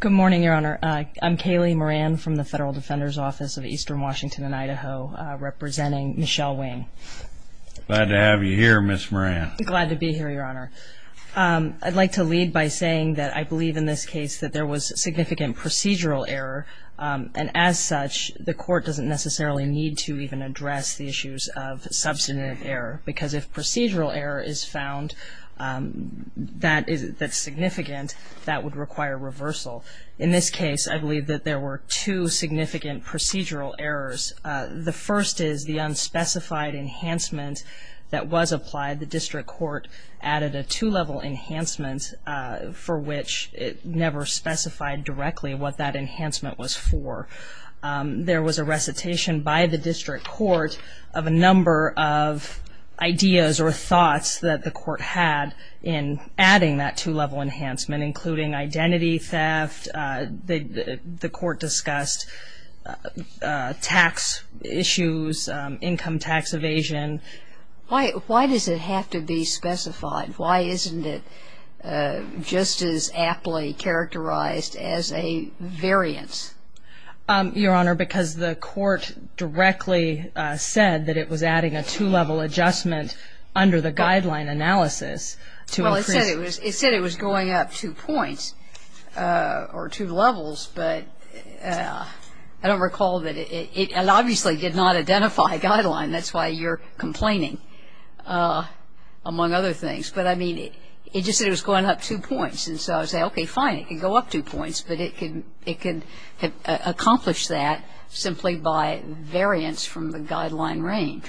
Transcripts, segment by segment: Good morning, Your Honor. I'm Kaylee Moran from the Federal Defender's Office of Eastern Washington and Idaho representing Michelle Wing. Glad to have you here, Ms. Moran. Glad to be here, Your Honor. I'd like to lead by saying that I believe in this case that there was significant procedural error and as such the court doesn't necessarily need to even address the issues of substantive error because if procedural error is found that's significant, that would require reversal. In this case, I believe that there were two significant procedural errors. The first is the unspecified enhancement that was applied. The district court added a two-level enhancement for which it never specified directly what that enhancement was for. There was a recitation by the district court of a number of ideas or thoughts that the court had in adding that two-level enhancement, including identity theft. The court discussed tax issues, income tax evasion. Why does it have to be specified? Why isn't it just as aptly characterized as a variance? Your Honor, because the court directly said that it was adding a two-level adjustment under the guideline analysis. Well, it said it was going up two points or two levels, but I don't recall that. It obviously did not identify a guideline. That's why you're complaining among other things. But I mean, it just said it was going up two points. And so I say, okay, fine, it can go up two points, but it can it can accomplish that simply by variance from the guideline range.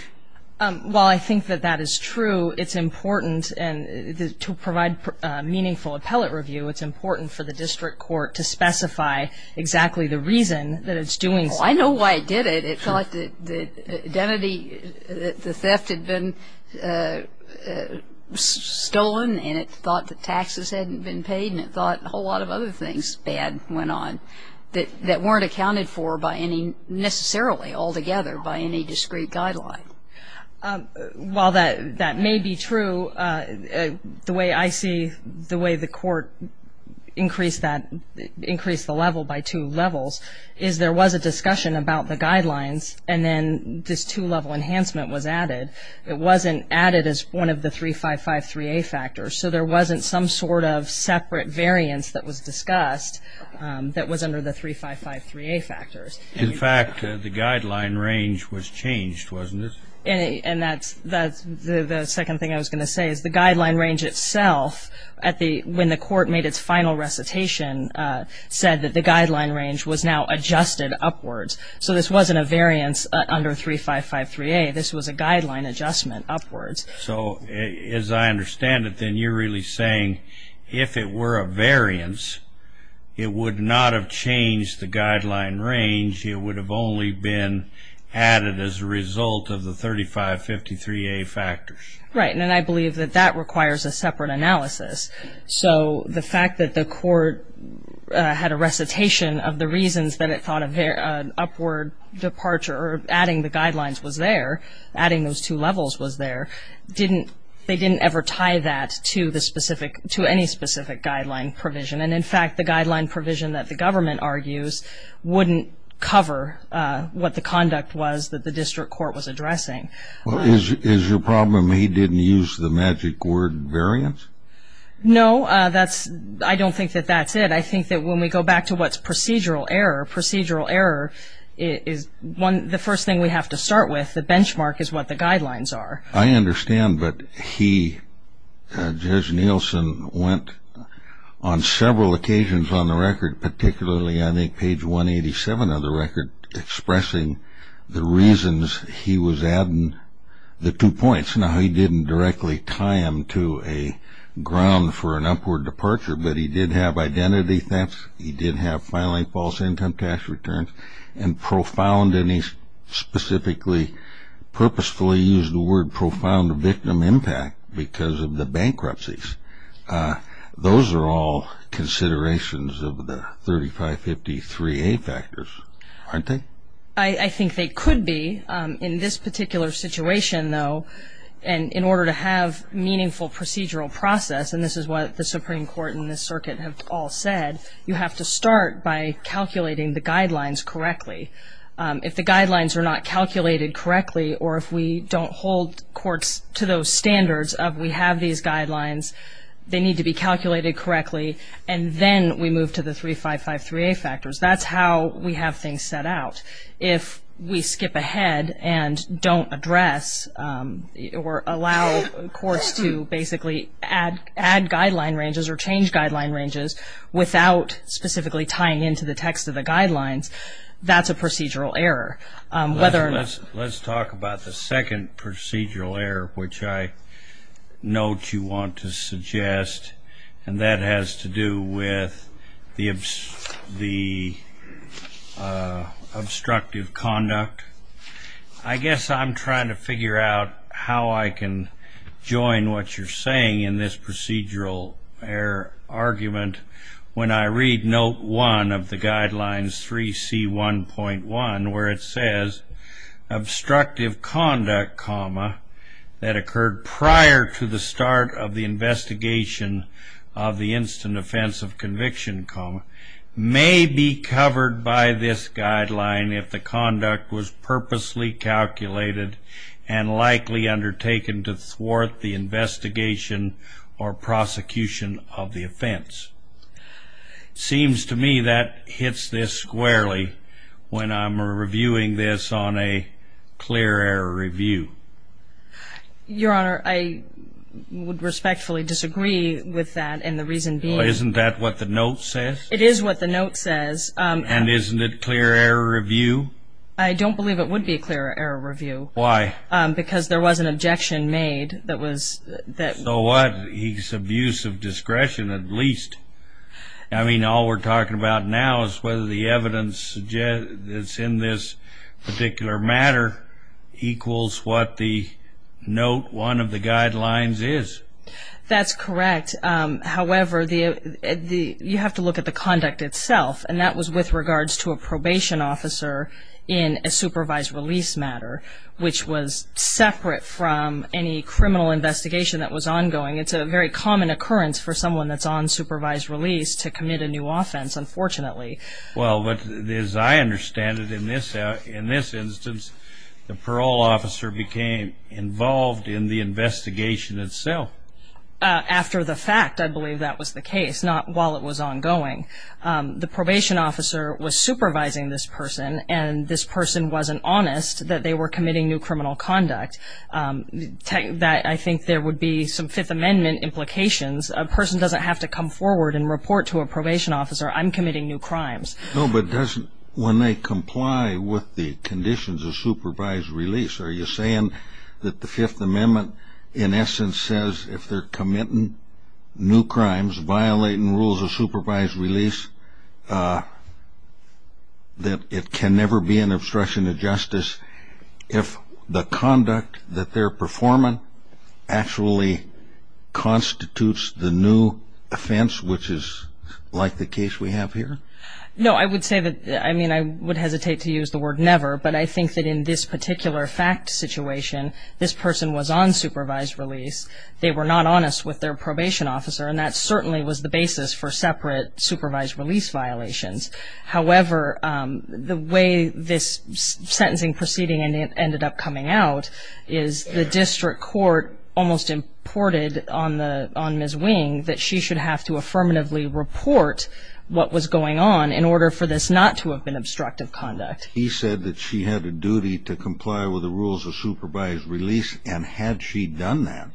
While I think that that is true, it's important and to provide meaningful appellate review, it's important for the district court to specify exactly the reason that it's doing so. I know why it did it. It thought that identity, that the theft had been stolen, and it thought that taxes hadn't been paid, and it thought a whole lot of other things bad went on that weren't accounted for by any, necessarily, altogether by any discrete guideline. While that may be true, the way I see the way the court increased that, increased the level by two levels, is there was a discussion about the guidelines, and then this two-level enhancement was added. It wasn't added as one of the 355-3A factors, so there wasn't some sort of separate variance that was discussed that was under the 355-3A factors. In fact, the guideline range was changed, wasn't it? And that's the second thing I was going to say, is the guideline range itself at the, when the court made its final recitation, said that the guideline range was now adjusted upwards. So this wasn't a variance under 355-3A, this was a guideline adjustment upwards. So as I understand it, then you're really saying if it were a variance, it would not have changed the guideline range, it would have only been added as a result of the 355-3A factors. Right, and I believe that that requires a separate analysis. So the fact that the court had a recitation of the reasons that it thought of their upward departure, or adding the guidelines was there, adding those two levels was there, didn't, they didn't ever tie that to the specific, to any specific guideline provision. And in fact, the guideline provision that the government argues wouldn't cover what the conduct was that the district court was addressing. Is your problem he didn't use the magic word variance? No, that's, I don't think that that's it. I think that when we go back to what's procedural error, procedural error is one, the first thing we have to start with, the benchmark is what the guidelines are. I understand, but he, Judge Nielsen, went on several occasions on the record, particularly I think page 187 of the record, expressing the reasons he was adding the two points. Now, he didn't directly tie him to a ground for an upward departure, but he did have identity theft, he did have filing false income tax returns, and profound, and he specifically, purposefully used the word profound victim impact because of the bankruptcies. Those are all considerations of the 3553A factors, aren't they? I think they could be in this particular situation though, and in order to have meaningful procedural process, and this is what the Supreme Court and the circuit have all said, you have to start by calculating the guidelines correctly. If the guidelines are not calculated correctly, or if we don't hold courts to those standards of we have these guidelines, they need to be calculated correctly, and then we move to the 3553A factors. That's how we have things set out. If we skip ahead and don't address or allow courts to basically add guideline ranges or change guideline ranges without specifically tying into the text of the guidelines, that's a procedural error. Let's talk about the second procedural error, which I note you want to suggest, and that has to do with the obstructive conduct. I guess I'm trying to figure out how I can join what you're saying in this procedural error argument when I read note one of the guidelines 3C1.1 where it says, obstructive conduct, that occurred prior to the start of the investigation of the instant offensive conviction, may be covered by this guideline if the conduct was purposely calculated and likely undertaken to thwart the investigation or prosecution of the offense. Seems to me that hits this squarely when I'm reviewing this on a clear error review. Your Honor, I would respectfully disagree with that and the reason being... Isn't that what the note says? It is what the note says. And isn't it clear error review? I don't believe it would be a clear error review. Why? Because there was an objection made that was that... So what? He's abuse of discretion at least. I mean, all we're talking about now is whether the evidence that's in this particular matter equals what the note one of the guidelines is. That's correct. However, you have to look at the conduct itself and that was with regards to a probation officer in a supervised release matter, which was separate from any criminal investigation that was ongoing. It's a very common occurrence for someone that's on supervised release to commit a new offense, unfortunately. Well, as I understand it in this instance, the parole officer became involved in the investigation itself. After the fact, I believe that was the case, not while it was ongoing. The probation officer was supervising this person and this person wasn't honest that they were committing new criminal conduct. I think there would be some Fifth Amendment implications. A person doesn't have to come forward and report to a probation officer, I'm committing new crimes. No, but doesn't when they comply with the conditions of supervised release, are you saying that the Fifth Amendment in essence says if they're committing new crimes, violating rules of supervised release, that it can never be an obstruction of justice if the conduct that they're performing actually constitutes the new offense, which is like the case we have here? No, I would say that, I mean, I would hesitate to use the word never, but I think that in this particular fact situation, this person was on supervised release. They were not honest with their probation officer and that certainly was the basis for separate supervised release violations. However, the way this was reported on Ms. Wing, that she should have to affirmatively report what was going on in order for this not to have been obstructive conduct. He said that she had a duty to comply with the rules of supervised release and had she done that,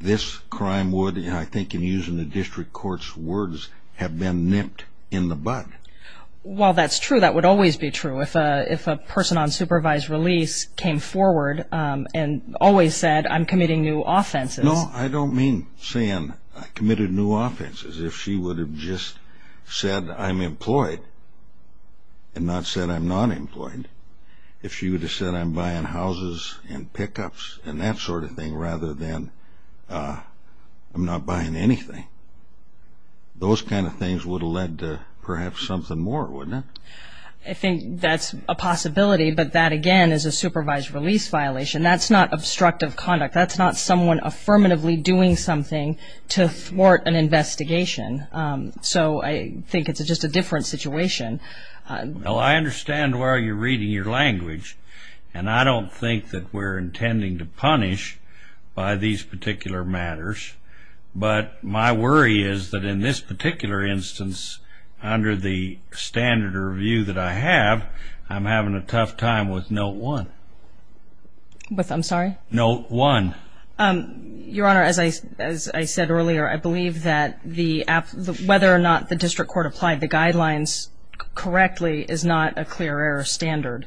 this crime would, I think in using the district court's words, have been nipped in the butt. Well, that's true. That would always be true. If a person on supervised release came forward and always said, I'm committing new offenses. No, I don't mean saying I committed new offenses. If she would have just said, I'm employed and not said, I'm not employed. If she would have said, I'm buying houses and pickups and that sort of thing rather than I'm not buying anything. Those kind of things would have led to perhaps something more, wouldn't it? I think that's a possibility, but that again is a supervised release violation. That's not obstructive conduct. That's not someone affirmatively doing something to thwart an investigation. So I think it's just a different situation. Well, I understand why you're reading your language, and I don't think that we're intending to punish by these particular matters. But my worry is that in this particular instance, under the standard of review that I have, I'm having a tough time with note one. With, I'm sorry? Note one. Your Honor, as I said earlier, I believe that whether or not the district court applied the guidelines correctly is not a clear error standard.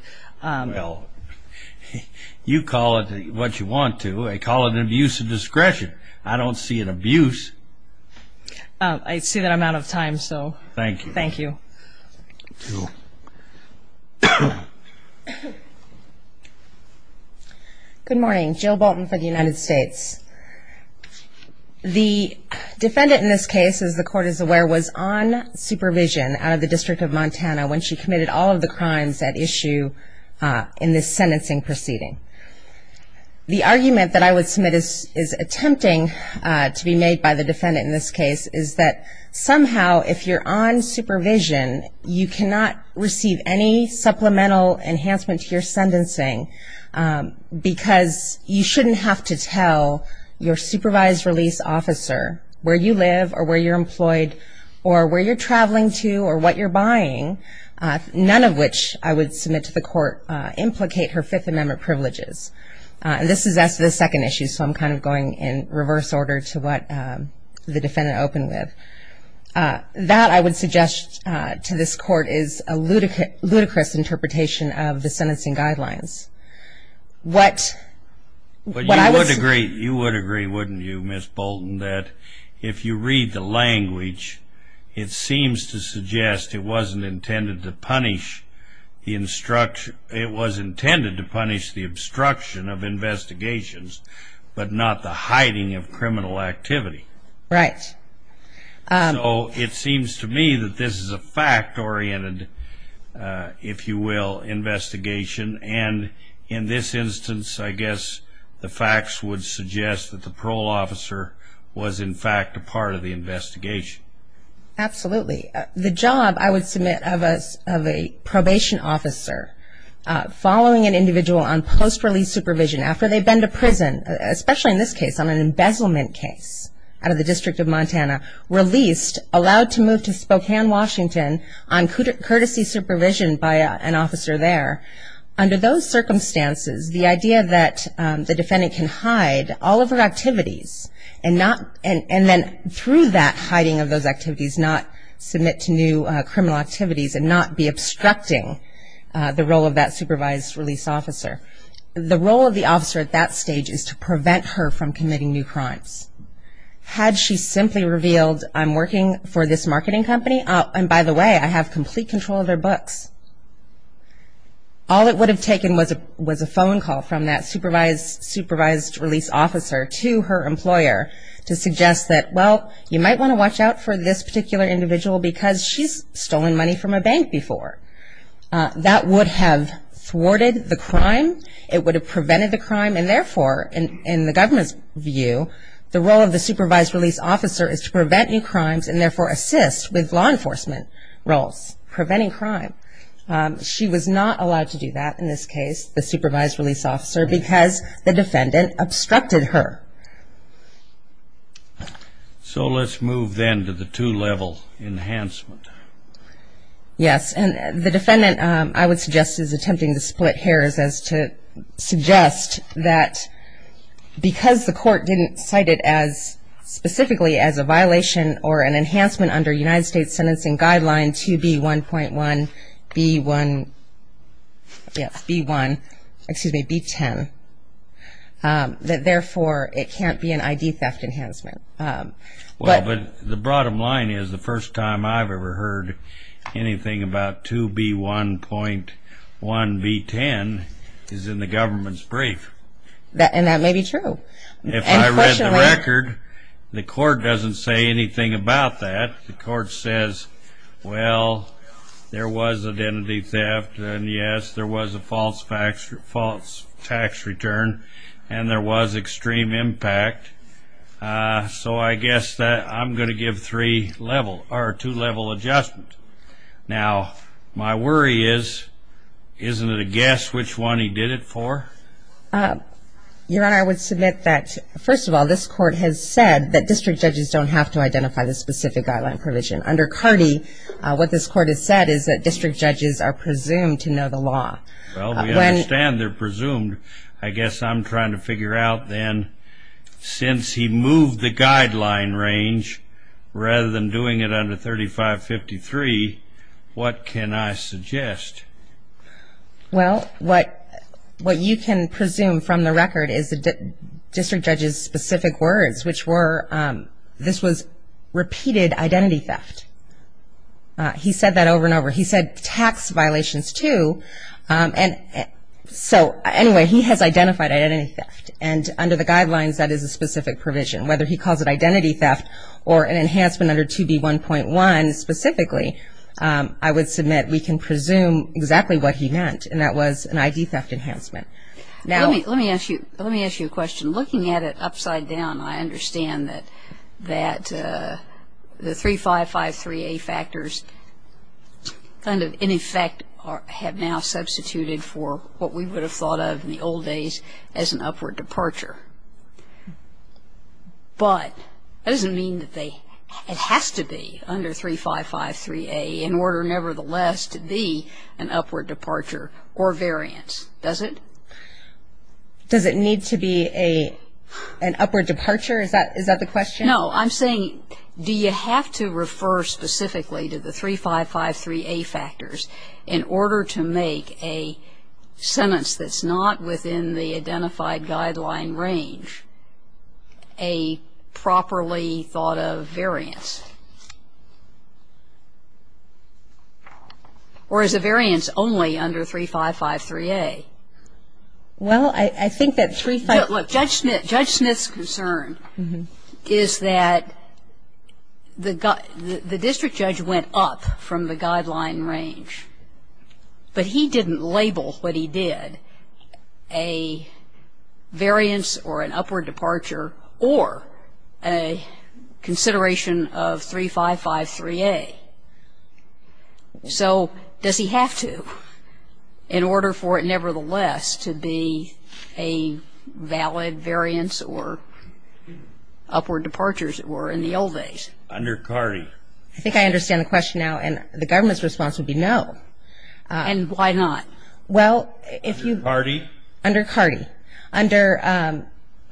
You call it what you want to. They call it an abuse of discretion. I don't see an abuse. I see that I'm out of time, so. Thank you. Thank you. Good morning, Jill Bolton for the United States. The defendant in this case, as the court is aware, was on supervision out of the District of Montana when she committed all of the crimes at issue in this sentencing proceeding. The argument that I would submit is attempting to be made by the defendant in this case is that somehow, if you're on supervision, you cannot receive any supplemental enhancement to your sentencing because you shouldn't have to tell your supervised release officer where you live or where you're employed or where you're traveling to or what you're buying, none of which I would submit to the court implicate her Fifth Amendment privileges. And this is as to the second issue, so I'm kind of going in reverse order to what the defendant opened with. That, I would suggest to this court, is a ludicrous interpretation of the sentencing guidelines. What? But you would agree, you would agree, wouldn't you, Ms. Bolton, that if you read the language, it seems to suggest it wasn't intended to punish the instruction, it was intended to punish the obstruction of investigations, but not the hiding of criminal activity. Right. So it seems to me that this is a fact-oriented, if you will, investigation, and in this instance, I guess the facts would suggest that the parole officer was in fact a part of the investigation. Absolutely. The job, I would submit, of a probation officer following an individual on post-release supervision after they've been to prison, especially in this case on an embezzlement case out of the District of Montana, released, allowed to move to Spokane, Washington, on courtesy supervision by an officer there, under those circumstances, the idea that the defendant can hide all of her activities and not, and then through that hiding of those activities, not submit to new criminal activities and not be obstructing the role of that supervised release officer. The role of the officer at that stage is to prevent her from committing new crimes. Had she simply revealed, I'm working for this marketing company, and by the way, I have complete control of their books, all it would have taken was a phone call from that supervised release officer to her employer to suggest that, well, you might want to watch out for this particular individual because she's stolen money from a bank before. That would have thwarted the crime. It would have prevented the crime, and therefore, in the government's view, the role of the supervised release officer is to prevent new crimes and therefore assist with law enforcement roles, preventing crime. She was not allowed to do that in this case, the supervised release officer, because the defendant obstructed her. So let's move then to the two-level enhancement. Yes, and the defendant, I would suggest, is attempting to split hairs as to suggest that because the court didn't cite it as specifically as a violation or an enhancement under United States Sentencing Guideline 2B1.1B1, yes, B1, excuse me, B10, that therefore it can't be an ID theft enhancement. Well, but the bottom line is the first time I've ever heard anything about 2B1.1B10 is in the government's brief. And that may be true. If I read the record, the court doesn't say anything about that. The court says, well, there was identity theft, and yes, there was a false tax return, and there was extreme impact. So I guess that I'm going to give three level, or two-level adjustment. Now, my worry is, isn't it a guess which one he did it for? Your Honor, I would submit that, first of all, this court has said that district judges don't have to identify the specific guideline provision. Under Cardey, what this court has said is that district judges are presumed to know the law. Well, we understand they're presumed. I guess I'm trying to figure out then, since he moved the guideline range, rather than doing it under 3553, what can I suggest? Well, what you can presume from the record is the district judge's specific words, which were, this was repeated identity theft. He said that over and over. He said tax violations, too. And so, anyway, he has identified identity theft. And under the guidelines, that is a specific provision. Whether he calls it identity theft, or an enhancement under 2B1.1, specifically, I would submit we can presume exactly what he meant, and that was an ID theft enhancement. Now, let me ask you, let me ask you a question. Looking at it upside down, I understand that, that the 3553A factors kind of, in effect, have now substituted for what we would have thought of in the old days as an upward departure. But, that doesn't mean that they, it has to be under 3553A in order, nevertheless, to be an upward departure, or variance. Does it? Does it need to be a, an upward departure? Is that, is that the question? No, I'm saying, do you have to refer specifically to the 3553A factors in order to make a sentence that's not within the identified guideline range? A properly thought of variance. Or is a variance only under 3553A? Well, I think that 3553A. Look, Judge Smith, Judge Smith's concern is that the, the district judge went up from the guideline range. But he didn't label what he did, a variance or an upward departure. Or a consideration of 3553A. So, does he have to, in order for it, nevertheless, to be a valid variance or upward departures that were in the old days? Under CARDI. I think I understand the question now. And the government's response would be no. And why not? Well, if you. Under CARDI. Under CARDI. Under,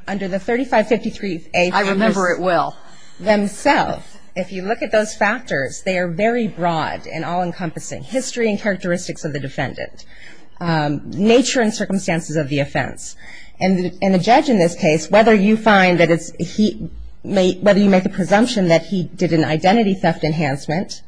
under the 3553A. I remember it well. Themselves. If you look at those factors, they are very broad and all encompassing. History and characteristics of the defendant. Nature and circumstances of the offense. And the, and the judge in this case, whether you find that it's, he, whether you make the presumption that he did an identity theft enhancement,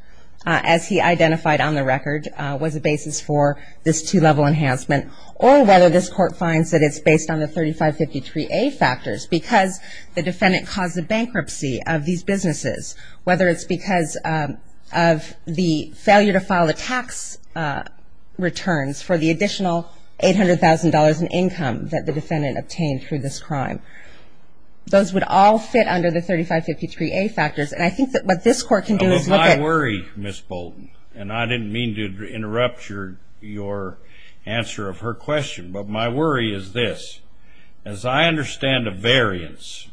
as he identified on the record, was a basis for this two level enhancement. Or whether this court finds that it's based on the 3553A factors. Because the defendant caused the bankruptcy of these businesses. Whether it's because of the failure to file the tax returns for the additional $800,000 in income that the defendant obtained through this crime. Those would all fit under the 3553A factors. And I think that what this court can do is look at. My worry, Ms. Bolton, and I didn't mean to interrupt your, your answer of her question. But my worry is this. As I understand a variance,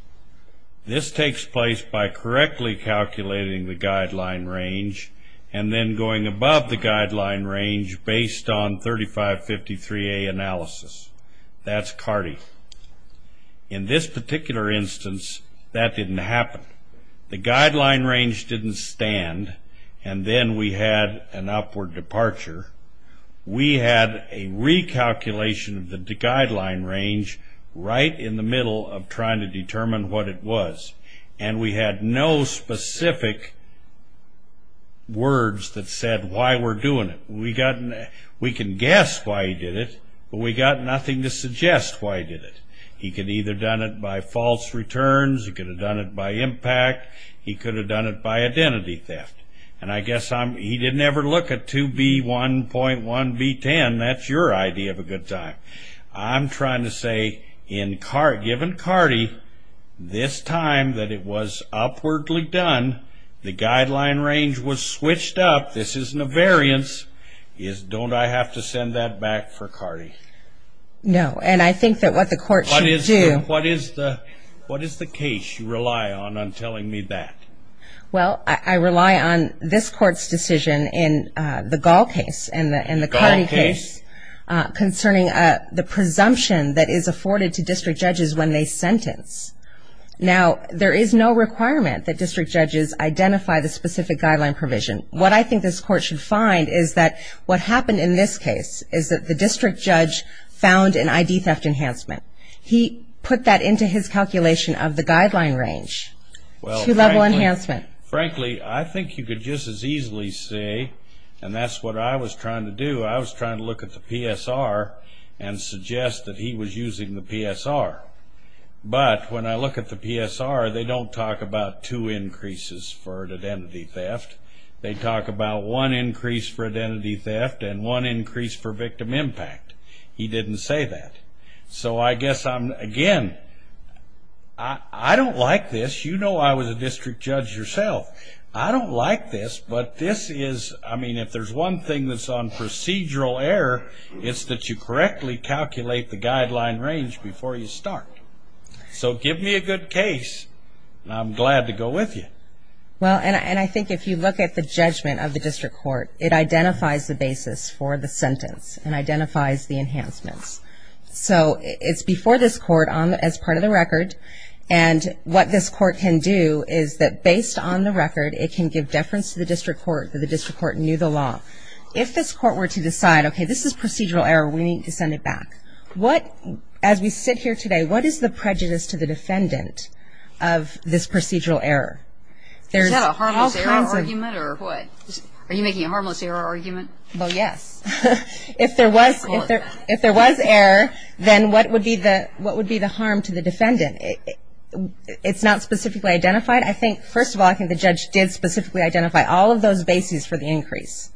this takes place by correctly calculating the guideline range. And then going above the guideline range based on 3553A analysis. That's CARDI. In this particular instance, that didn't happen. The guideline range didn't stand, and then we had an upward departure. We had a recalculation of the guideline range right in the middle of trying to determine what it was. And we had no specific words that said why we're doing it. We got, we can guess why he did it, but we got nothing to suggest why he did it. He could have either done it by false returns. He could have done it by impact. He could have done it by identity theft. And I guess I'm, he didn't ever look at 2B1.1B10, that's your idea of a good time. I'm trying to say, in CAR, given CARDI, this time that it was upwardly done, the guideline range was switched up, this isn't a variance. Is, don't I have to send that back for CARDI? No, and I think that what the court should do. What is the, what is the case you rely on, on telling me that? Well, I, I rely on this court's decision in the Gall case and the, and the CARDI case. Concerning the presumption that is afforded to district judges when they sentence. Now, there is no requirement that district judges identify the specific guideline provision. What I think this court should find is that, what happened in this case, is that the district judge found an ID theft enhancement. He put that into his calculation of the guideline range, two level enhancement. Frankly, I think you could just as easily say, and that's what I was trying to do, I was trying to look at the PSR and suggest that he was using the PSR. But, when I look at the PSR, they don't talk about two increases for identity theft. They talk about one increase for identity theft and one increase for victim impact. He didn't say that. So, I guess I'm, again, I, I don't like this. You know I was a district judge yourself. I don't like this, but this is, I mean, if there's one thing that's on procedural error, it's that you correctly calculate the guideline range before you start. So, give me a good case, and I'm glad to go with you. Well, and I think if you look at the judgment of the district court, it identifies the basis for the sentence and identifies the enhancements. So, it's before this court as part of the record, and what this court can do is that based on the record, it can give deference to the district court that the district court knew the law. If this court were to decide, okay, this is procedural error, we need to send it back. What, as we sit here today, what is the prejudice to the defendant of this procedural error? There's all kinds of. Is that a harmless error argument, or what? Are you making a harmless error argument? Well, yes. If there was, if there, if there was error, then what would be the, what would be the harm to the defendant? It, it's not specifically identified. I think, first of all, I think the judge did specifically identify all of those bases for the increase.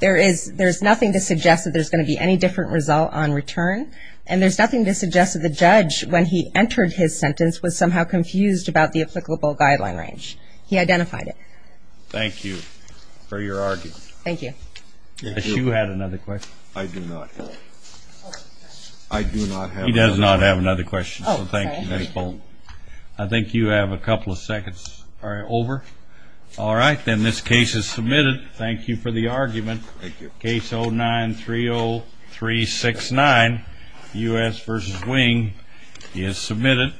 There is, there's nothing to suggest that there's going to be any different result on return, and there's nothing to suggest that the judge, when he entered his sentence, was somehow confused about the applicable guideline range. He identified it. Thank you for your argument. Thank you. Yes, you had another question. I do not have. I do not have another question. He does not have another question. Oh, sorry. So, thank you, Ms. Bolton. I think you have a couple of seconds. All right, over. All right, then this case is submitted. Thank you for the argument. Thank you. Case 09-30369, U.S. versus Wing, is submitted.